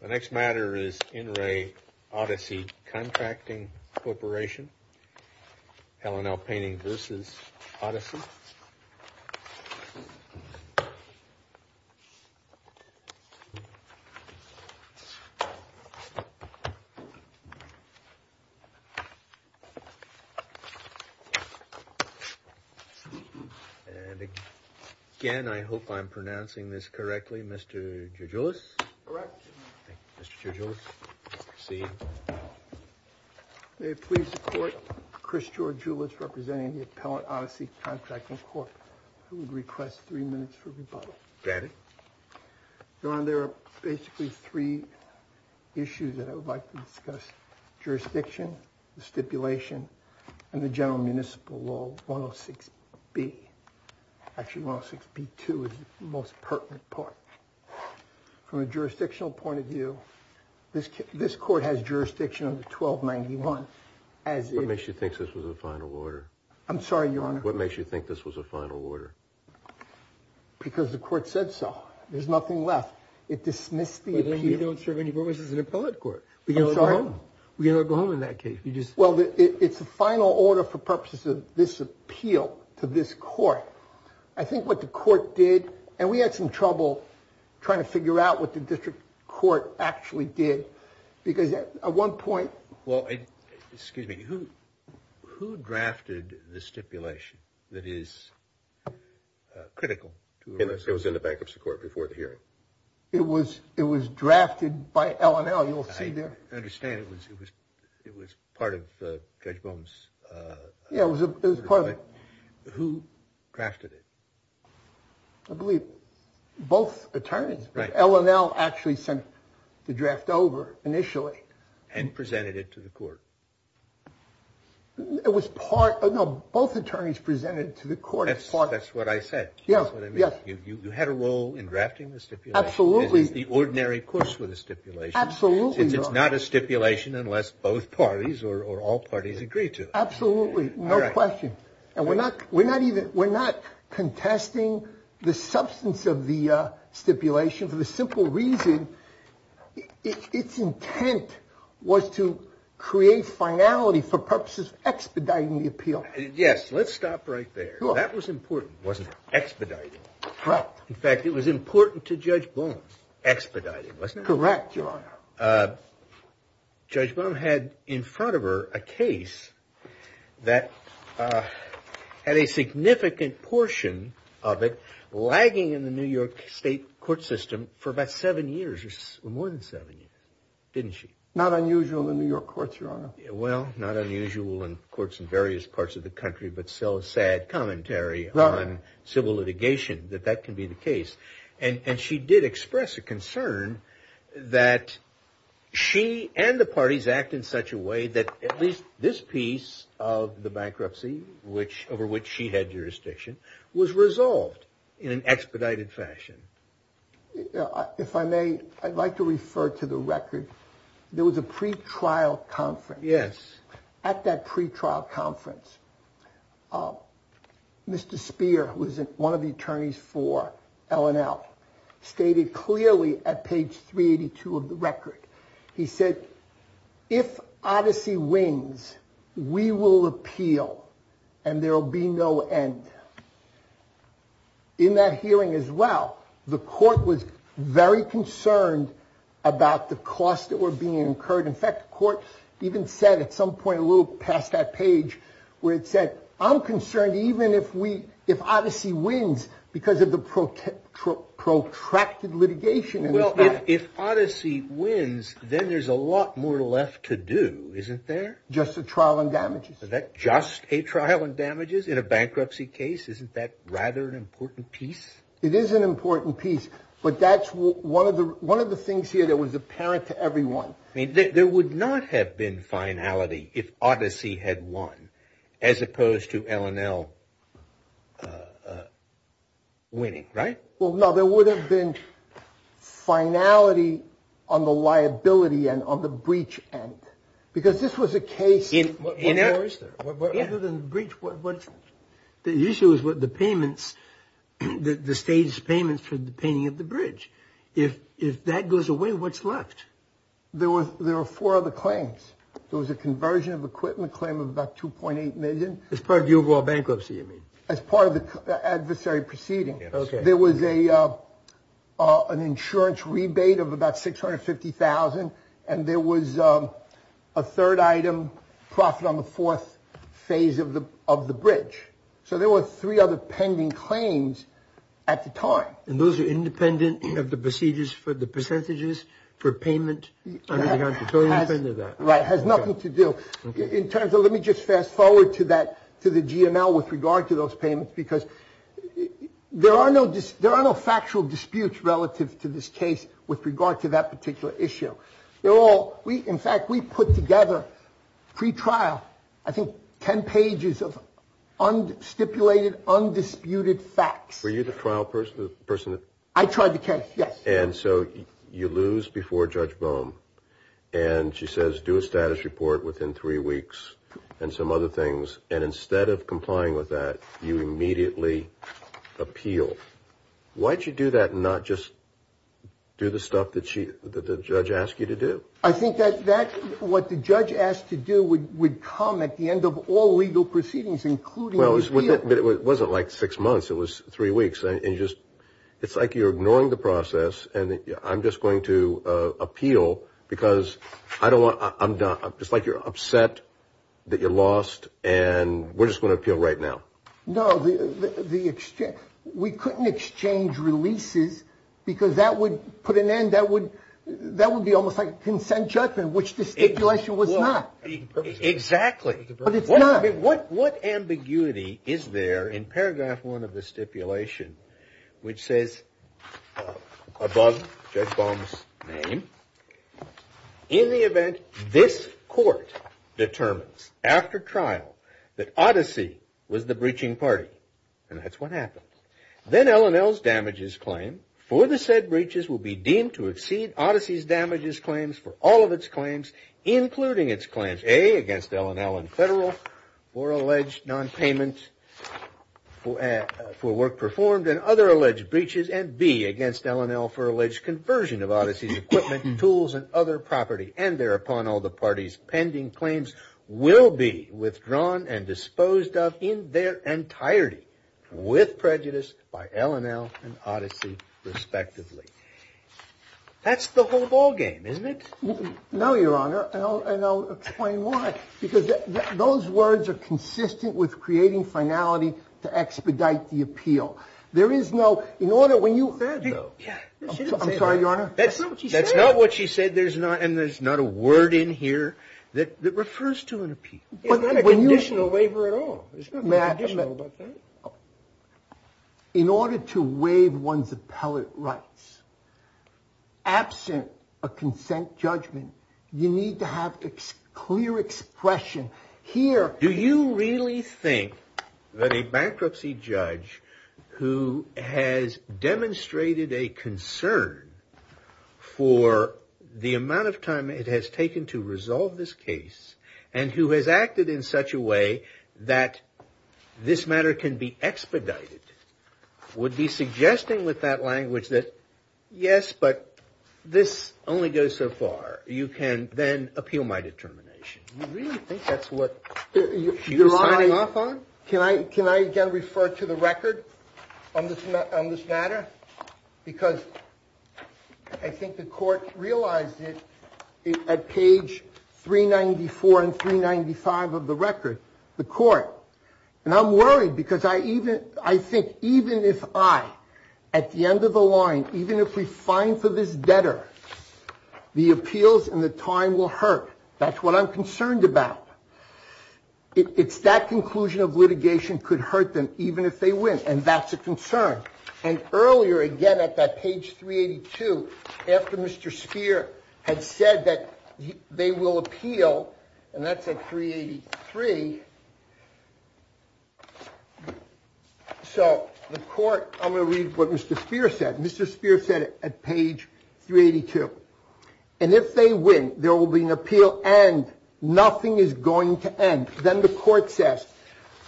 The next matter is In Re Odyssey Contracting Corporation, Helen L. Painting v. Odyssey. And again, I hope I'm pronouncing this correctly, Mr. Joujoulis? Correct. Mr. Joujoulis, proceed. May it please the Court, Chris Joujoulis representing the Appellate Odyssey Contracting Corp. I would request three minutes for rebuttal. Granted. Your Honor, there are basically three issues that I would like to discuss. Jurisdiction, the stipulation, and the general municipal law 106B. Actually, 106B2 is the most pertinent part. From a jurisdictional point of view, this Court has jurisdiction under 1291. What makes you think this was a final order? I'm sorry, Your Honor. What makes you think this was a final order? Because the Court said so. There's nothing left. It dismissed the appeal. But then you don't serve any purpose as an appellate court. I'm sorry. We can never go home. We can never go home in that case. Well, it's a final order for purposes of this appeal to this Court. I think what the Court did, and we had some trouble trying to figure out what the District Court actually did. Because at one point. Well, excuse me. Who drafted the stipulation that is critical? It was in the Bankruptcy Court before the hearing. It was drafted by L&L, you'll see there. I understand it was part of Judge Bohm's. Yeah, it was part of it. Who drafted it? I believe both attorneys. L&L actually sent the draft over initially. And presented it to the Court. It was part. No, both attorneys presented it to the Court. That's what I said. Yes. You had a role in drafting the stipulation. Absolutely. This is the ordinary course with a stipulation. Absolutely, Your Honor. It's not a stipulation unless both parties or all parties agree to it. Absolutely. No question. And we're not contesting the substance of the stipulation for the simple reason its intent was to create finality for purposes of expediting the appeal. Yes. Let's stop right there. That was important. It wasn't expediting. Correct. In fact, it was important to Judge Bohm. Expediting, wasn't it? Correct, Your Honor. Judge Bohm had in front of her a case that had a significant portion of it lagging in the New York State court system for about seven years or more than seven years, didn't she? Not unusual in New York courts, Your Honor. Well, not unusual in courts in various parts of the country, but so sad commentary on civil litigation that that can be the case. And she did express a concern that she and the parties act in such a way that at least this piece of the bankruptcy over which she had jurisdiction was resolved in an expedited fashion. If I may, I'd like to refer to the record. There was a pretrial conference. Yes. At that pretrial conference, Mr. Speer, who was one of the attorneys for L&L, stated clearly at page 382 of the record, he said, if Odyssey wins, we will appeal and there will be no end. In that hearing as well, the court was very concerned about the cost that were being incurred. In fact, the court even said at some point a little past that page where it said, I'm concerned even if we if Odyssey wins because of the protracted litigation. Well, if Odyssey wins, then there's a lot more left to do, isn't there? Just a trial and damages. Is that just a trial and damages in a bankruptcy case? Isn't that rather an important piece? It is an important piece. But that's one of the one of the things here that was apparent to everyone. I mean, there would not have been finality if Odyssey had won as opposed to L&L winning. Right. Well, no, there would have been finality on the liability and on the breach. And because this was a case, you know, is there a breach? What's the issue is with the payments, the state's payments for the painting of the bridge. If if that goes away, what's left? There was there were four of the claims. There was a conversion of equipment claim of about two point eight million as part of your bankruptcy. I mean, as part of the adversary proceeding, there was a an insurance rebate of about six hundred fifty thousand. And there was a third item profit on the fourth phase of the of the bridge. So there were three other pending claims at the time. And those are independent of the procedures for the percentages for payment. Right. Has nothing to do in terms of. Let me just fast forward to that, to the GMO with regard to those payments, because there are no there are no factual disputes relative to this case with regard to that particular issue. They're all we. In fact, we put together free trial. I think 10 pages of stipulated undisputed facts. Were you the trial person, the person that I tried to catch? And so you lose before Judge Bohm and she says, do a status report within three weeks and some other things. And instead of complying with that, you immediately appeal. Why did you do that? Not just do the stuff that the judge asked you to do. I think that that's what the judge asked to do. We would come at the end of all legal proceedings, including those. But it wasn't like six months. It was three weeks. And just it's like you're ignoring the process. And I'm just going to appeal because I don't want I'm just like you're upset that you lost. And we're just going to appeal right now. No, the extent we couldn't exchange releases because that would put an end. That would that would be almost like consent judgment, which the stipulation was not exactly. What ambiguity is there in paragraph one of the stipulation, which says above Judge Bohm's name. In the event this court determines after trial that Odyssey was the breaching party and that's what happened, then L&L's damages claim for the said breaches will be deemed to exceed Odyssey's damages claims for all of its claims, including its claims, A, against L&L and federal for alleged nonpayment for work performed and other alleged breaches, and B, against L&L for alleged conversion of Odyssey's equipment and tools and other property. And thereupon, all the parties pending claims will be withdrawn and disposed of in their entirety with prejudice by L&L and Odyssey, respectively. That's the whole ballgame, isn't it? No, Your Honor. And I'll explain why. Because those words are consistent with creating finality to expedite the appeal. There is no in order when you. I'm sorry, Your Honor. That's not what she said. That's not what she said. There's not and there's not a word in here that refers to an appeal. It's not a conditional waiver at all. In order to waive one's appellate rights. Absent a consent judgment, you need to have a clear expression here. Do you really think that a bankruptcy judge who has demonstrated a concern for the amount of time it has taken to resolve this case, and who has acted in such a way that this matter can be expedited, would be suggesting with that language that, yes, but this only goes so far. You can then appeal my determination. You really think that's what she's signing off on? Can I again refer to the record on this matter? Because I think the court realized it at page 394 and 395 of the record. The court. And I'm worried because I think even if I, at the end of the line, even if we fine for this debtor, the appeals and the time will hurt. That's what I'm concerned about. It's that conclusion of litigation could hurt them even if they win. And that's a concern. And earlier, again, at that page 382, after Mr. Speer had said that they will appeal, and that's at 383. So the court, I'm going to read what Mr. Speer said. Mr. Speer said at page 382. And if they win, there will be an appeal and nothing is going to end. Then the court says,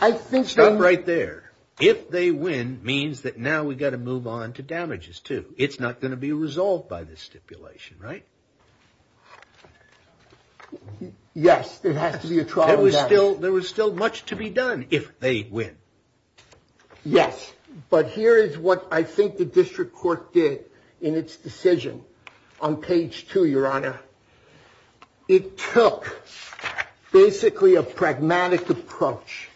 I think. Stop right there. If they win, means that now we've got to move on to damages, too. It's not going to be resolved by this stipulation, right? Yes, there has to be a trial. There was still much to be done if they win. Yes. But here is what I think the district court did in its decision on page 2, Your Honor. It took basically a pragmatic approach.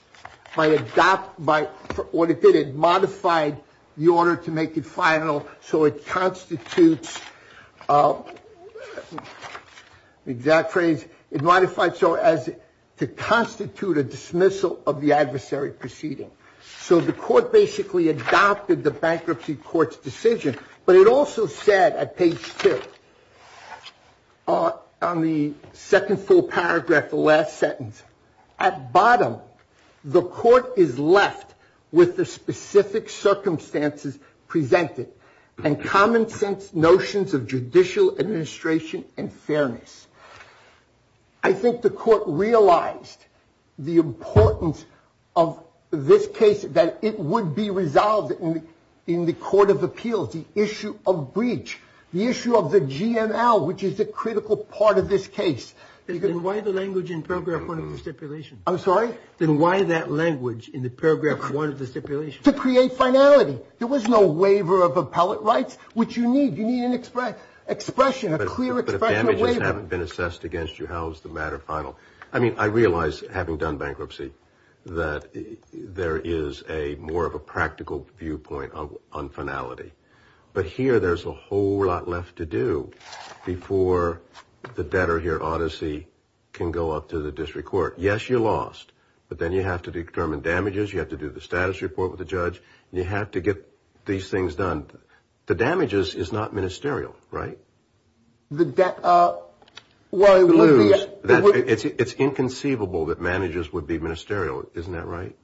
What it did, it modified the order to make it final. So it constitutes, the exact phrase, it modified so as to constitute a dismissal of the adversary proceeding. So the court basically adopted the bankruptcy court's decision. But it also said at page 2, on the second full paragraph, the last sentence, at bottom, the court is left with the specific circumstances presented and common sense notions of judicial administration and fairness. I think the court realized the importance of this case, that it would be resolved in the court of appeals, the issue of breach, the issue of the GML, which is a critical part of this case. Then why the language in paragraph 1 of the stipulation? I'm sorry? Then why that language in the paragraph 1 of the stipulation? To create finality. There was no waiver of appellate rights, which you need. You need an expression, a clear expression of waiver. But if damages haven't been assessed against you, how is the matter final? I mean, I realize, having done bankruptcy, that there is more of a practical viewpoint on finality. But here there's a whole lot left to do before the debtor here, Odyssey, can go up to the district court. Yes, you lost. But then you have to determine damages. You have to do the status report with the judge. You have to get these things done. The damages is not ministerial, right? It's inconceivable that managers would be ministerial. Isn't that right?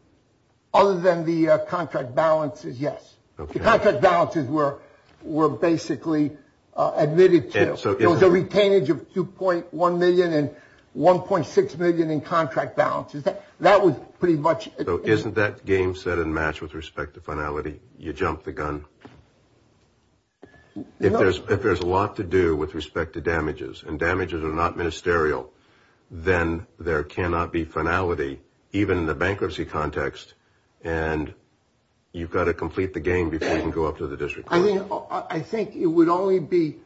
Other than the contract balances, yes. The contract balances were basically admitted to. There was a retainage of $2.1 million and $1.6 million in contract balances. That was pretty much. So isn't that game set and matched with respect to finality? You jumped the gun. If there's a lot to do with respect to damages, and damages are not ministerial, then there cannot be finality, even in the bankruptcy context. And you've got to complete the game before you can go up to the district court. I think it would only be,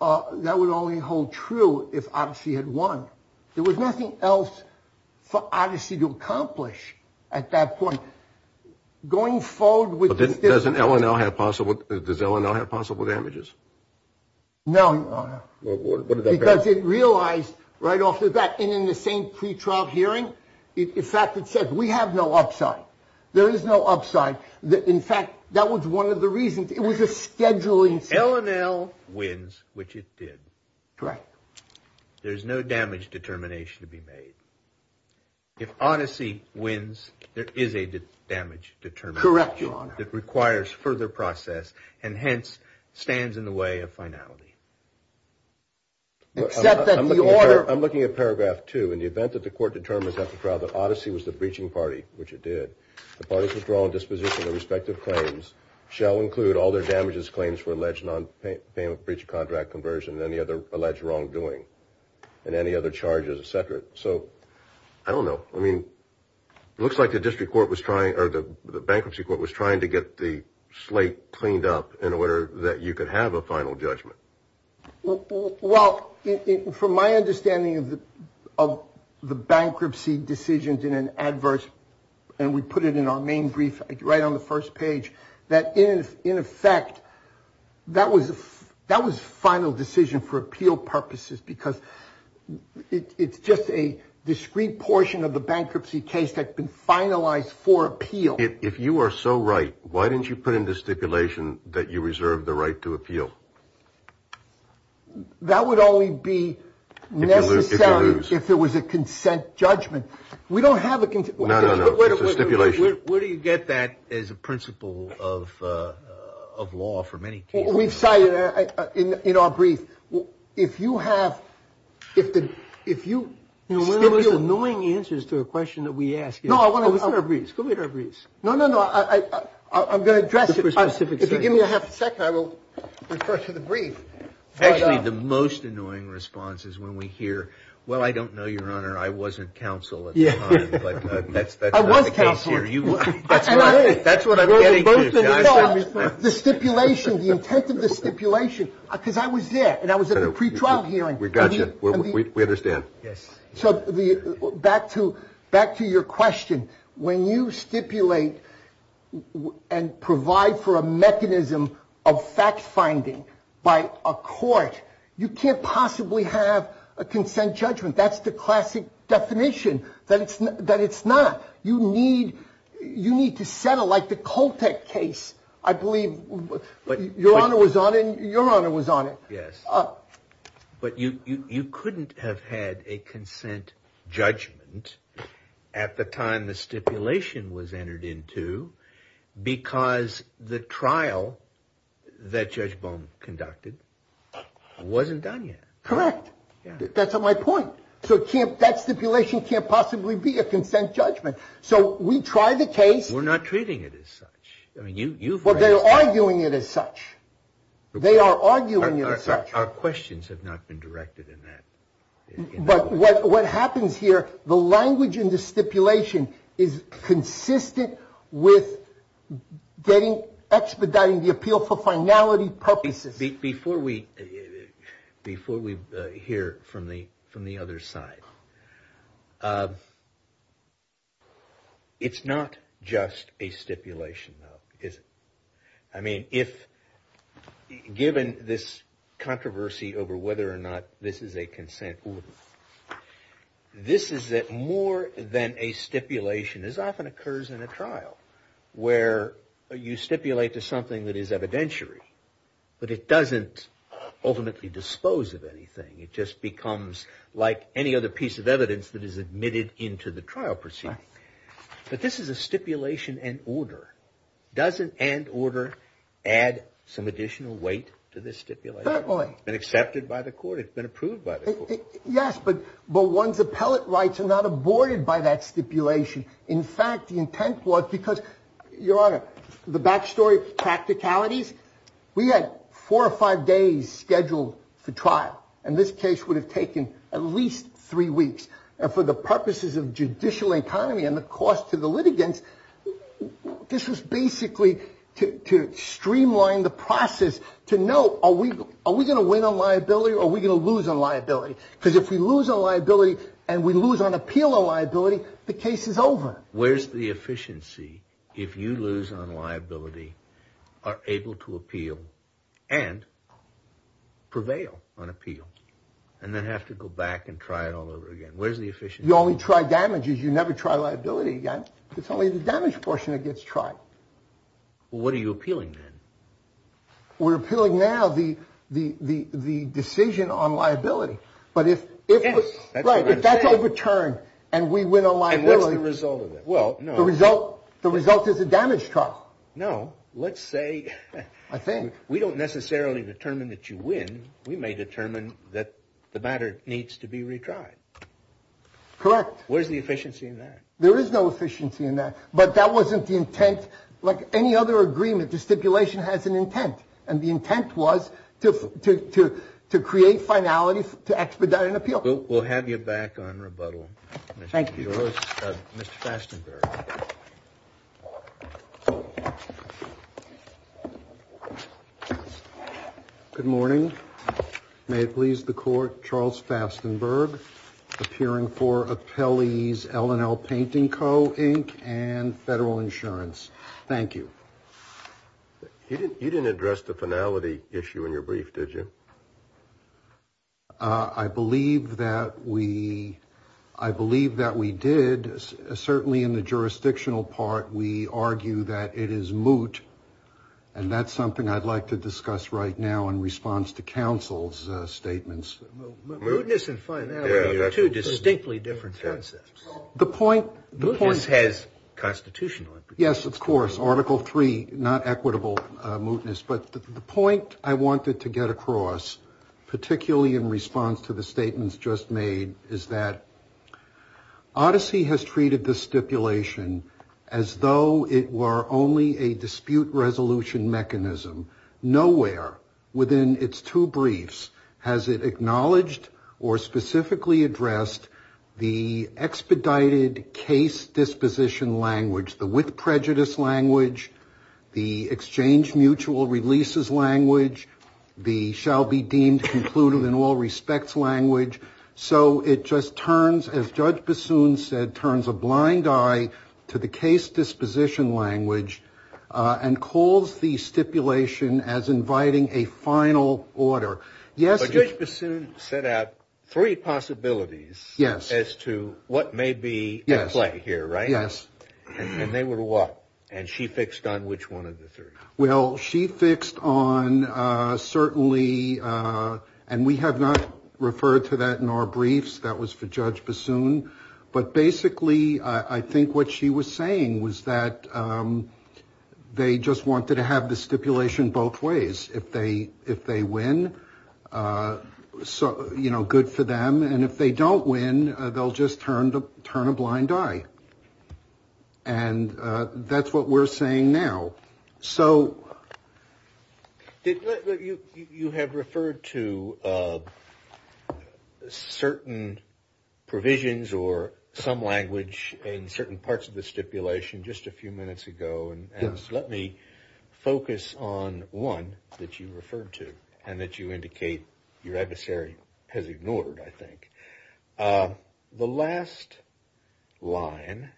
that would only hold true if Odyssey had won. There was nothing else for Odyssey to accomplish at that point. Going forward with this. Doesn't L&L have possible, does L&L have possible damages? No, Your Honor. Because it realized right off the bat, and in the same pre-trial hearing, in fact it said, we have no upside. There is no upside. In fact, that was one of the reasons. It was a scheduling. L&L wins, which it did. Correct. There's no damage determination to be made. If Odyssey wins, there is a damage determination. Correct, Your Honor. That requires further process, and hence stands in the way of finality. Except that the order. I'm looking at paragraph two. In the event that the court determines after trial that Odyssey was the breaching party, which it did, the parties withdrawal and disposition of the respective claims shall include all their damages claims for alleged non-payment of breach of contract conversion and any other alleged wrongdoing, and any other charges, et cetera. So, I don't know. It looks like the bankruptcy court was trying to get the slate cleaned up in order that you could have a final judgment. Well, from my understanding of the bankruptcy decisions in an adverse, and we put it in our main brief right on the first page, that in effect, that was final decision for appeal purposes because it's just a discrete portion of the bankruptcy case that's been finalized for appeal. If you are so right, why didn't you put into stipulation that you reserve the right to appeal? That would only be necessary if there was a consent judgment. We don't have a consent judgment. No, no, no. It's a stipulation. Where do you get that as a principle of law for many cases? We've cited it in our brief. If you have, if you stipulate. One of the most annoying answers to a question that we ask is. No, I want to. Go get our briefs. No, no, no. I'm going to address it. If you give me a half a second, I will refer to the brief. Actually, the most annoying response is when we hear, well, I don't know, Your Honor. I wasn't counsel at the time, but that's not the case here. I was counsel. That's what I'm getting to. The stipulation, the intent of the stipulation, because I was there and I was at a pretrial hearing. We got you. We understand. Yes. So back to your question. When you stipulate and provide for a mechanism of fact-finding by a court, you can't possibly have a consent judgment. That's the classic definition that it's not. You need to settle like the Koltek case. I believe Your Honor was on it. Your Honor was on it. Yes. But you couldn't have had a consent judgment at the time the stipulation was entered into because the trial that Judge Bowman conducted wasn't done yet. Correct. That's my point. So that stipulation can't possibly be a consent judgment. So we try the case. We're not treating it as such. Well, they're arguing it as such. They are arguing it as such. Our questions have not been directed in that way. But what happens here, the language in the stipulation is consistent with expediting the appeal for finality purposes. Before we hear from the other side, it's not just a stipulation, though, is it? I mean, given this controversy over whether or not this is a consent order, this is more than a stipulation. This often occurs in a trial where you stipulate to something that is evidentiary, but it doesn't ultimately dispose of anything. It just becomes like any other piece of evidence that is admitted into the trial proceeding. But this is a stipulation and order. Doesn't and order add some additional weight to this stipulation? Certainly. It's been accepted by the court. It's been approved by the court. Yes, but one's appellate rights are not aborted by that stipulation. In fact, the intent was because, Your Honor, the back story, practicalities, we had four or five days scheduled for trial. And this case would have taken at least three weeks. And for the purposes of judicial economy and the cost to the litigants, this was basically to streamline the process to know, are we going to win on liability or are we going to lose on liability? Because if we lose on liability and we lose on appeal on liability, the case is over. Where's the efficiency if you lose on liability, are able to appeal and prevail on appeal and then have to go back and try it all over again? Where's the efficiency? You only try damages. You never try liability again. It's only the damage portion that gets tried. Well, what are you appealing then? We're appealing now the decision on liability. But if that's a return and we win on liability. And what's the result of it? Well, no. The result is a damage trial. No. Let's say. I think. We don't necessarily determine that you win. We may determine that the matter needs to be retried. Correct. Where's the efficiency in that? There is no efficiency in that. But that wasn't the intent. Like any other agreement, the stipulation has an intent. And the intent was to create finality to expedite an appeal. We'll have you back on rebuttal. Thank you. Mr. Fastenberg. Good morning. May it please the court. Charles Fastenberg. Appearing for appellees. L and L Painting Co Inc. And federal insurance. Thank you. You didn't address the finality issue in your brief, did you? I believe that we. I believe that we did. Certainly in the jurisdictional part. We argue that it is moot. And that's something I'd like to discuss right now in response to counsel's statements. Mootness and finality are two distinctly different concepts. The point. Mootness has constitutional. Yes, of course. Article three, not equitable mootness. But the point I wanted to get across, particularly in response to the statements just made, is that Odyssey has treated the stipulation as though it were only a dispute resolution mechanism. Nowhere. Within its two briefs. Has it acknowledged or specifically addressed the expedited case disposition language, the with prejudice language. The exchange mutual releases language. The shall be deemed concluded in all respects language. So it just turns as judge Bassoon said, turns a blind eye. To the case disposition language and calls the stipulation as inviting a final order. Yes. Judge Bassoon set out three possibilities. Yes. As to what may be. Yes. Right here. Right. Yes. And they were what. And she fixed on which one of the three. Well, she fixed on certainly. And we have not referred to that in our briefs. That was for judge Bassoon. But basically, I think what she was saying was that they just wanted to have the stipulation both ways. If they if they win. So, you know, good for them. And if they don't win, they'll just turn to turn a blind eye. And that's what we're saying now. So you have referred to certain provisions or some language in certain parts of the stipulation just a few minutes ago. And let me focus on one that you referred to and that you indicate your adversary has ignored. I think the last line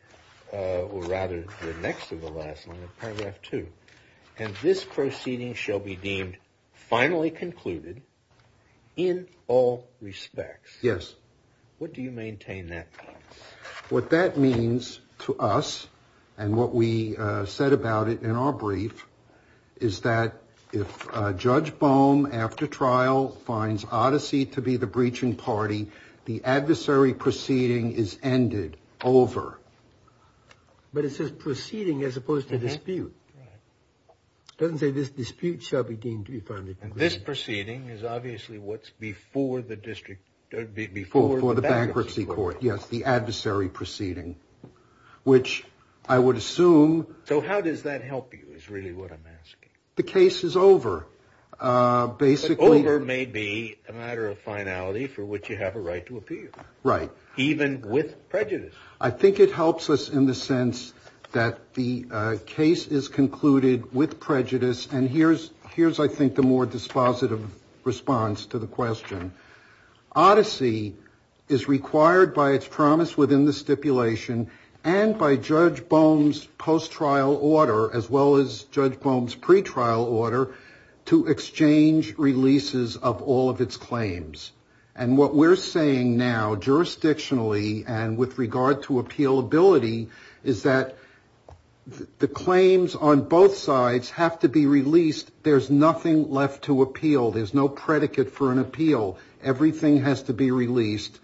or rather the next to the last paragraph, too. And this proceeding shall be deemed finally concluded in all respects. Yes. What do you maintain that? What that means to us and what we said about it in our brief is that if Judge Boehm after trial finds Odyssey to be the breaching party, the adversary proceeding is ended over. But it says proceeding as opposed to dispute. It doesn't say this dispute shall be deemed to be funded. This proceeding is obviously what's before the district before the bankruptcy court. Yes. The adversary proceeding, which I would assume. So how does that help you? Is really what I'm asking. The case is over. Over may be a matter of finality for which you have a right to appear. Right. Even with prejudice. I think it helps us in the sense that the case is concluded with prejudice. And here's I think the more dispositive response to the question. Odyssey is required by its promise within the stipulation and by Judge Boehm's post-trial order, as well as Judge Boehm's pre-trial order, to exchange releases of all of its claims. And what we're saying now jurisdictionally and with regard to appealability is that the claims on both sides have to be released. There's nothing left to appeal. There's no predicate for an appeal. Everything has to be released.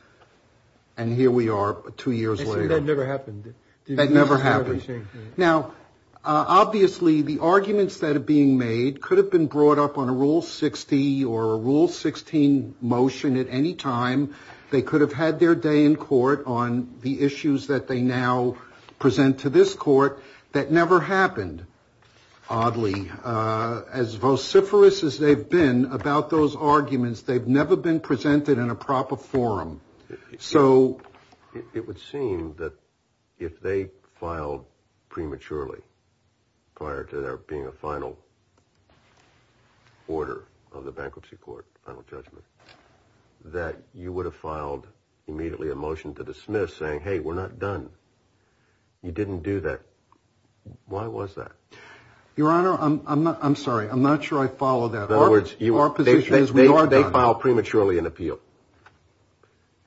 And here we are two years later. That never happened. That never happened. Now, obviously, the arguments that are being made could have been brought up on a rule 60 or a rule 16 motion at any time. They could have had their day in court on the issues that they now present to this court. That never happened. Oddly, as vociferous as they've been about those arguments, they've never been presented in a proper forum. So it would seem that if they filed prematurely prior to there being a final order of the bankruptcy court, final judgment, that you would have filed immediately a motion to dismiss saying, hey, we're not done. You didn't do that. Why was that? Your Honor, I'm sorry. I'm not sure I follow that. Our position is we are done. They filed prematurely an appeal.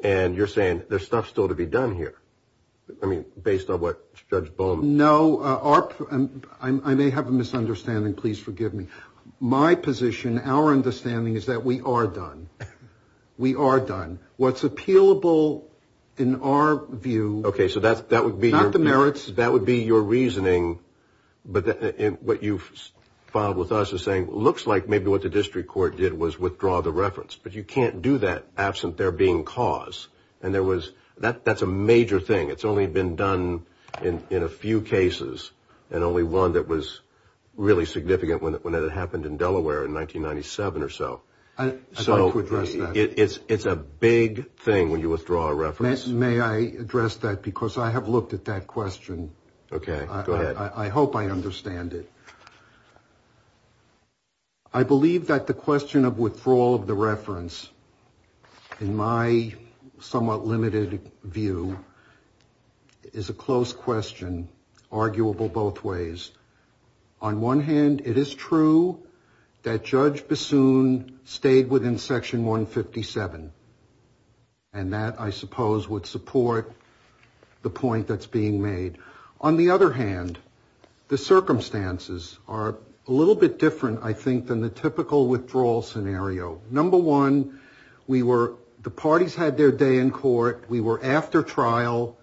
And you're saying there's stuff still to be done here. I mean, based on what Judge Bowman. No. I may have a misunderstanding. Please forgive me. My position, our understanding is that we are done. We are done. What's appealable in our view. Okay. So that would be. Not the merits. That would be your reasoning. But what you filed with us is saying, looks like maybe what the district court did was withdraw the reference. But you can't do that absent there being cause. And there was. That's a major thing. It's only been done in a few cases. And only one that was really significant when it happened in Delaware in 1997 or so. It's a big thing when you withdraw a reference. May I address that? Because I have looked at that question. Okay. Go ahead. I hope I understand it. I believe that the question of withdrawal of the reference. In my somewhat limited view. Is a close question. Arguable both ways. On one hand, it is true. That Judge Bassoon stayed within section 157. And that, I suppose, would support the point that's being made. On the other hand, the circumstances are a little bit different, I think, than the typical withdrawal scenario. Number one, we were. The parties had their day in court. We were after trial.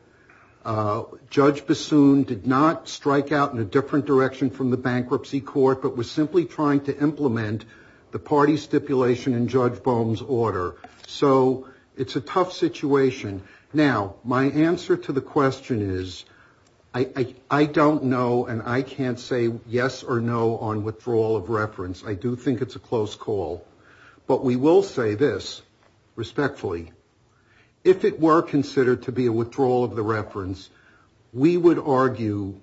Judge Bassoon did not strike out in a different direction from the bankruptcy court. But was simply trying to implement the party stipulation in Judge Boehme's order. So it's a tough situation. Now, my answer to the question is, I don't know and I can't say yes or no on withdrawal of reference. I do think it's a close call. But we will say this, respectfully. If it were considered to be a withdrawal of the reference, we would argue.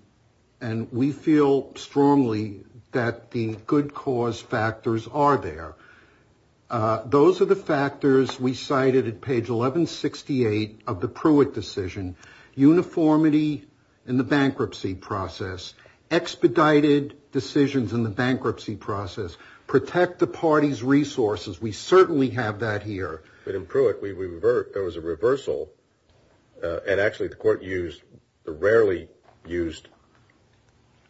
And we feel strongly that the good cause factors are there. Those are the factors we cited at page 1168 of the Pruitt decision. Uniformity in the bankruptcy process. Expedited decisions in the bankruptcy process. Protect the party's resources. We certainly have that here. But in Pruitt, there was a reversal. And actually, the court used the rarely used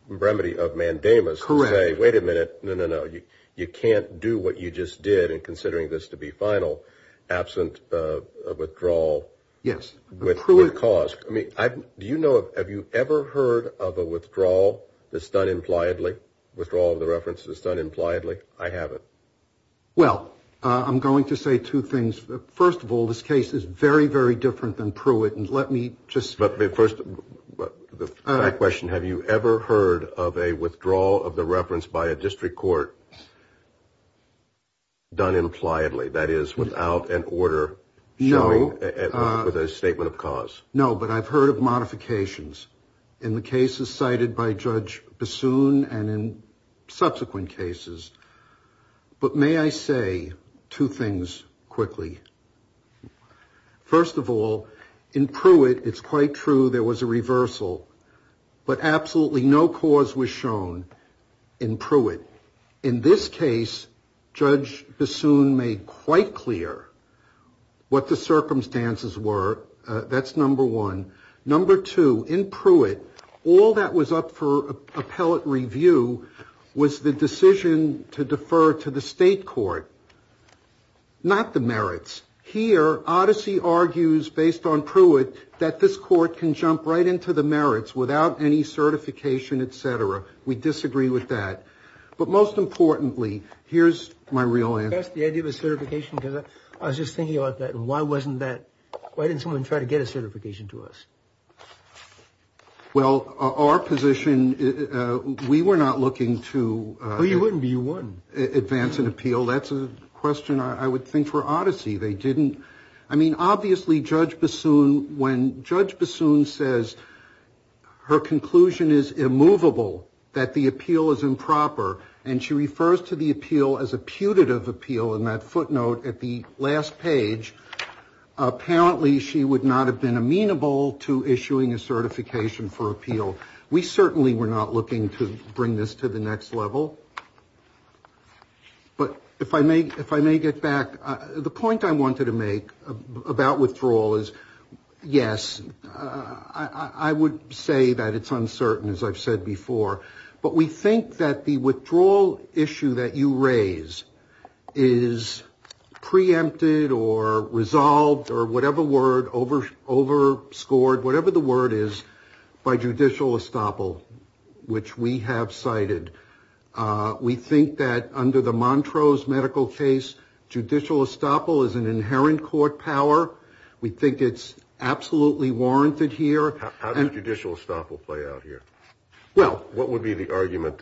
remedy of mandamus. Correct. Wait a minute. No, no, no. You can't do what you just did in considering this to be final. Absent withdrawal. Yes. With cause. I mean, do you know, have you ever heard of a withdrawal that's done impliedly? Withdrawal of the reference that's done impliedly? I haven't. Well, I'm going to say two things. First of all, this case is very, very different than Pruitt. And let me just. But the first question, have you ever heard of a withdrawal of the reference by a district court? Done impliedly, that is, without an order. No. With a statement of cause. No, but I've heard of modifications in the cases cited by Judge Bassoon and in subsequent cases. But may I say two things quickly? First of all, in Pruitt, it's quite true. There was a reversal, but absolutely no cause was shown in Pruitt. In this case, Judge Bassoon made quite clear what the circumstances were. That's number one. Number two, in Pruitt, all that was up for appellate review was the decision to defer to the state court. Not the merits. Here, Odyssey argues, based on Pruitt, that this court can jump right into the merits without any certification, et cetera. We disagree with that. But most importantly, here's my real answer. That's the idea of a certification? Because I was just thinking about that. And why wasn't that? Why didn't someone try to get a certification to us? Well, our position, we were not looking to advance an appeal. That's a question I would think for Odyssey. They didn't. I mean, obviously, Judge Bassoon, when Judge Bassoon says her conclusion is immovable, that the appeal is improper, and she refers to the appeal as a putative appeal in that footnote at the last page, apparently she would not have been amenable to issuing a certification for appeal. We certainly were not looking to bring this to the next level. But if I may get back, the point I wanted to make about withdrawal is, yes, I would say that it's uncertain, as I've said before. But we think that the withdrawal issue that you raise is preempted or resolved or whatever word, overscored, whatever the word is, by judicial estoppel, which we have cited. We think that under the Montrose medical case, judicial estoppel is an inherent court power. We think it's absolutely warranted here. How does judicial estoppel play out here? Well. What would be the argument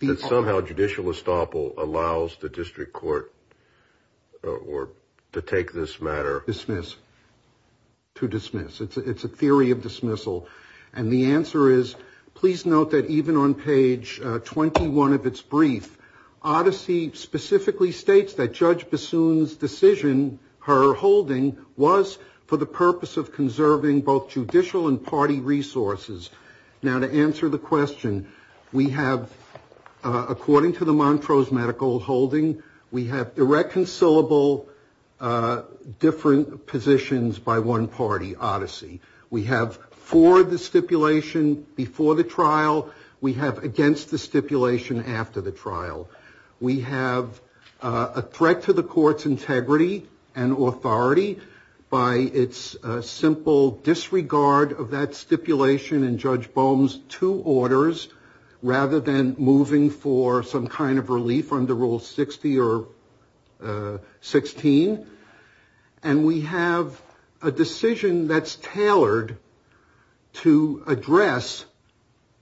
that somehow judicial estoppel allows the district court to take this matter? Dismiss, to dismiss. It's a theory of dismissal. And the answer is, please note that even on page 21 of its brief, Odyssey specifically states that Judge Bassoon's decision, her holding, was for the purpose of conserving both judicial and party resources. Now, to answer the question, we have, according to the Montrose medical holding, we have irreconcilable different positions by one party, Odyssey. We have for the stipulation before the trial. We have against the stipulation after the trial. We have a threat to the court's integrity and authority by its simple disregard of that stipulation to orders rather than moving for some kind of relief under Rule 60 or 16. And we have a decision that's tailored to address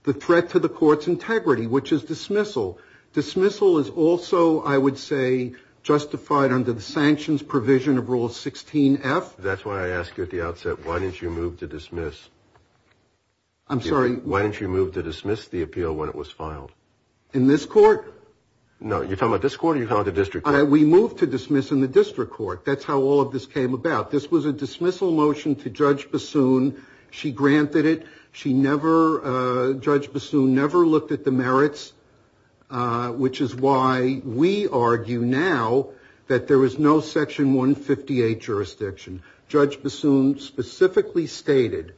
the threat to the court's integrity, which is dismissal. Dismissal is also, I would say, justified under the sanctions provision of Rule 16F. That's why I asked you at the outset, why didn't you move to dismiss? I'm sorry? Why didn't you move to dismiss the appeal when it was filed? In this court? No, you're talking about this court or you're talking about the district court? We moved to dismiss in the district court. That's how all of this came about. This was a dismissal motion to Judge Bassoon. She granted it. She never, Judge Bassoon, never looked at the merits, which is why we argue now that there is no Section 158 jurisdiction. Judge Bassoon specifically stated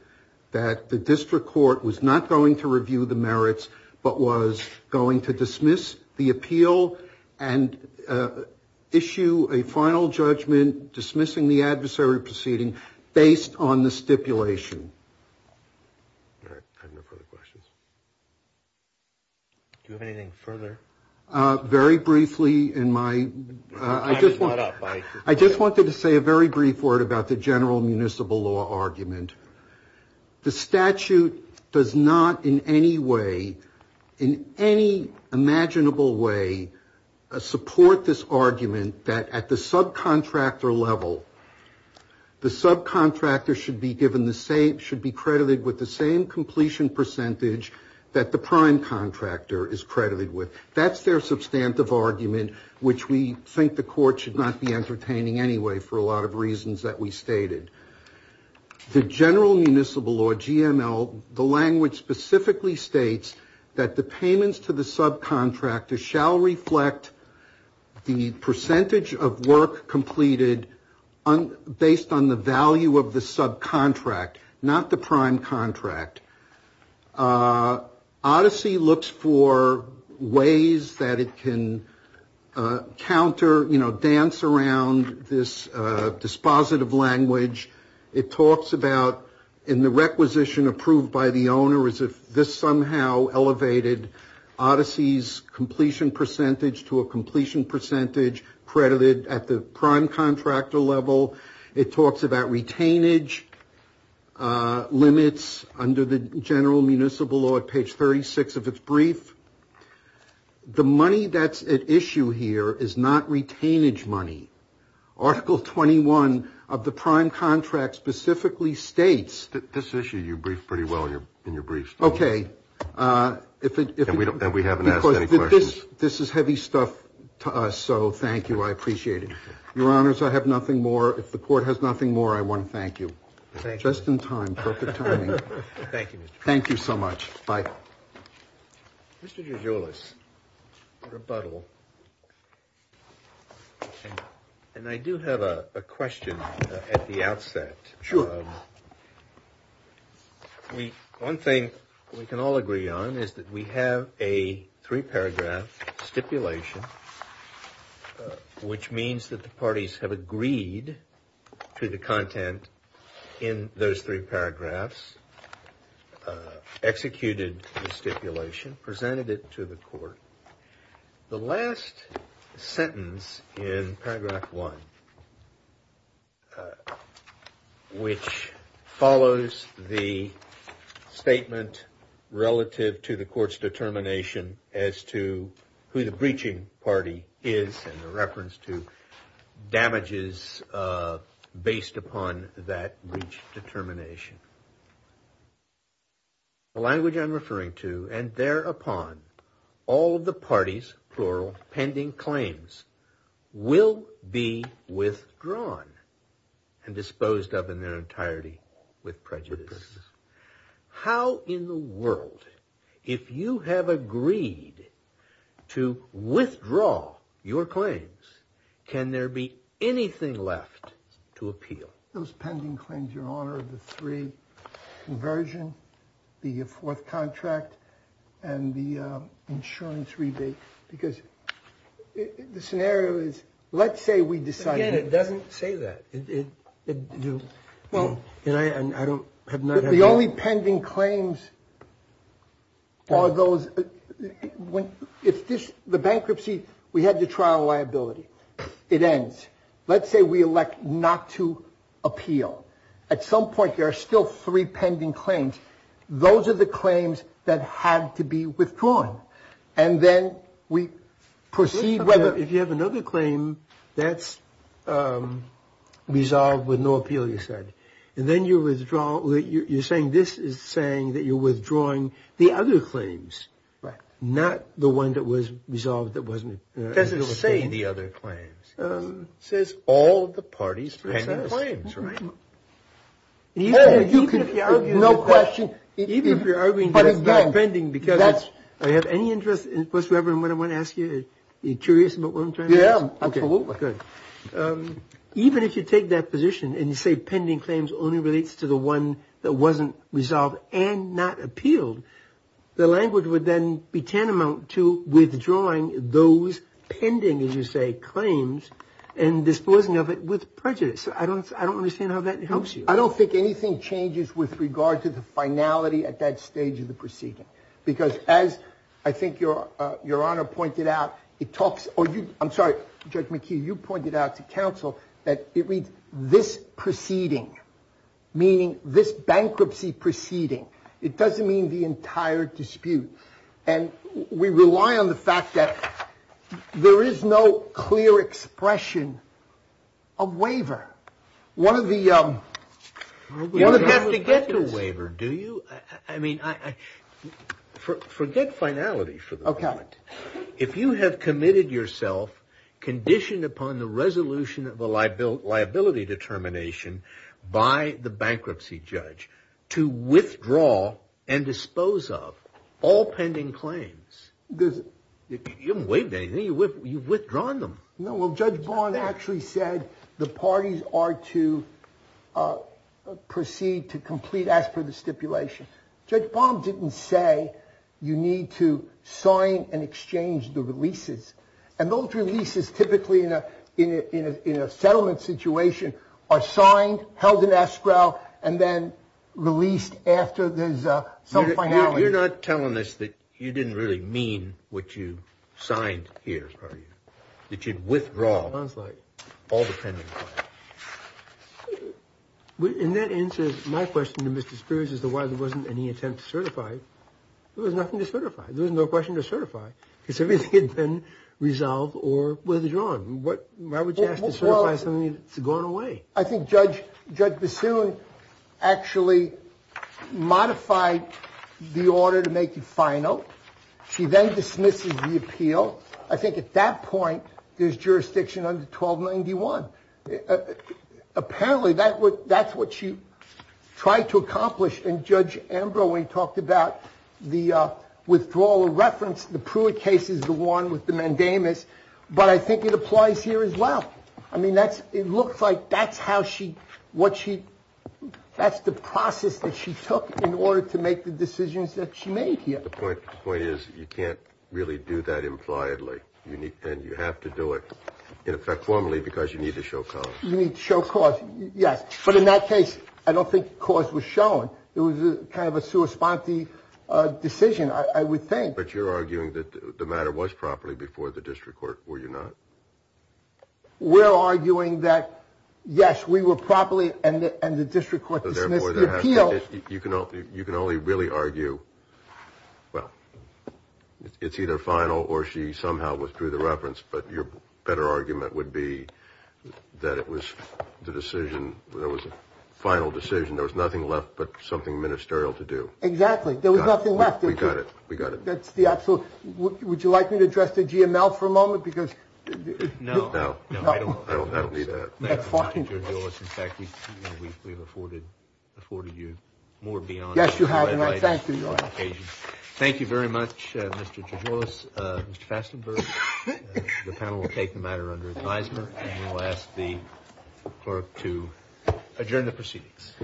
that the district court was not going to review the merits but was going to dismiss the appeal and issue a final judgment dismissing the adversary proceeding based on the stipulation. I have no further questions. Do you have anything further? Very briefly, I just wanted to say a very brief word about the general municipal law argument. The statute does not in any way, in any imaginable way, support this argument that at the subcontractor level, the subcontractor should be credited with the same completion percentage that the prime contractor is credited with. That's their substantive argument, which we think the court should not be entertaining anyway for a lot of reasons that we stated. The general municipal law, GML, the language specifically states that the payments to the subcontractor shall reflect the percentage of work completed based on the value of the subcontract, not the prime contract. Odyssey looks for ways that it can counter, you know, dance around this dispositive language. It talks about, in the requisition approved by the owner, as if this somehow elevated Odyssey's completion percentage to a completion percentage credited at the prime contractor level. It talks about retainage limits under the general municipal law at page 36 of its brief. The money that's at issue here is not retainage money. Article 21 of the prime contract specifically states. This issue you briefed pretty well in your briefs. Okay. And we haven't asked any questions. This is heavy stuff to us, so thank you. I appreciate it. Your Honors, I have nothing more. If the court has nothing more, I want to thank you. Thank you. Just in time. Perfect timing. Thank you, Mr. Chairman. Thank you so much. Bye. Mr. Georgioulas, rebuttal. And I do have a question at the outset. Sure. One thing we can all agree on is that we have a three-paragraph stipulation, which means that the parties have agreed to the content in those three paragraphs, executed the stipulation, presented it to the court. The last sentence in paragraph one, which follows the statement relative to the court's determination as to who the breaching party is, and the reference to damages based upon that breach determination. The language I'm referring to, and thereupon, all of the parties, plural, pending claims, will be withdrawn and disposed of in their entirety with prejudice. How in the world, if you have agreed to withdraw your claims, can there be anything left to appeal? Those pending claims, Your Honor, are the three, conversion, the fourth contract, and the insurance rebate. Because the scenario is, let's say we decide. Again, it doesn't say that. The only pending claims are those. The bankruptcy, we had the trial liability. It ends. Let's say we elect not to appeal. At some point, there are still three pending claims. Those are the claims that had to be withdrawn. And then we proceed whether. If you have another claim, that's resolved with no appeal, you said. And then you withdraw. You're saying this is saying that you're withdrawing the other claims, not the one that was resolved that wasn't. Because it's saying the other claims says all the parties. Right. You can. No question. Even if you're arguing that it's not pending because that's. I have any interest. Most Reverend, when I want to ask you, you're curious about what I'm trying to. Yeah, absolutely. Good. Even if you take that position and you say pending claims only relates to the one that wasn't resolved and not appealed. The language would then be tantamount to withdrawing those pending, as you say, claims and disposing of it with prejudice. I don't I don't understand how that helps you. I don't think anything changes with regard to the finality at that stage of the proceeding, because as I think your your honor pointed out, it talks. I'm sorry. Judge McKee, you pointed out to counsel that it reads this proceeding, meaning this bankruptcy proceeding. It doesn't mean the entire dispute. And we rely on the fact that there is no clear expression of waiver. One of the you have to get the waiver. Do you? I mean, I forget finality. OK. If you have committed yourself conditioned upon the resolution of a liability liability determination by the bankruptcy judge to withdraw and dispose of all pending claims. Does it wait anything? You withdrawing them? No. Well, Judge Bond actually said the parties are to proceed to complete. That's for the stipulation. Judge Bond didn't say you need to sign and exchange the releases and those releases typically in a in a settlement situation are signed, held in escrow and then released after there's some finality. You're not telling us that you didn't really mean what you signed here, are you? Sounds like all the time. In that instance, my question to Mr. Spears is the why there wasn't any attempt to certify. There was nothing to certify. There was no question to certify because everything had been resolved or withdrawn. What? Why would you ask to certify something that's gone away? I think Judge Judge Bassoon actually modified the order to make it final. She then dismisses the appeal. I think at that point, there's jurisdiction under 1291. Apparently, that's what she tried to accomplish. And Judge Ambrose talked about the withdrawal of reference. The Pruitt case is the one with the mandamus. But I think it applies here as well. I mean, that's it looks like that's how she what she that's the process that she took in order to make the decisions that she made here. The point is, you can't really do that impliedly. You need and you have to do it in effect formally because you need to show. You need to show cause. Yes. But in that case, I don't think cause was shown. It was kind of a suicide. The decision, I would think. But you're arguing that the matter was properly before the district court. Were you not? We're arguing that, yes, we were properly. You can only really argue. Well, it's either final or she somehow withdrew the reference. But your better argument would be that it was the decision. There was a final decision. There was nothing left but something ministerial to do. Exactly. There was nothing left. We got it. We got it. That's the absolute. Would you like me to address the GML for a moment? Because now I don't need that. In fact, we've we've afforded afforded you more beyond. Yes, you have. Thank you. Thank you very much. Mr. Fastenberg, the panel will take the matter under advisement. And we'll ask the clerk to adjourn the proceedings.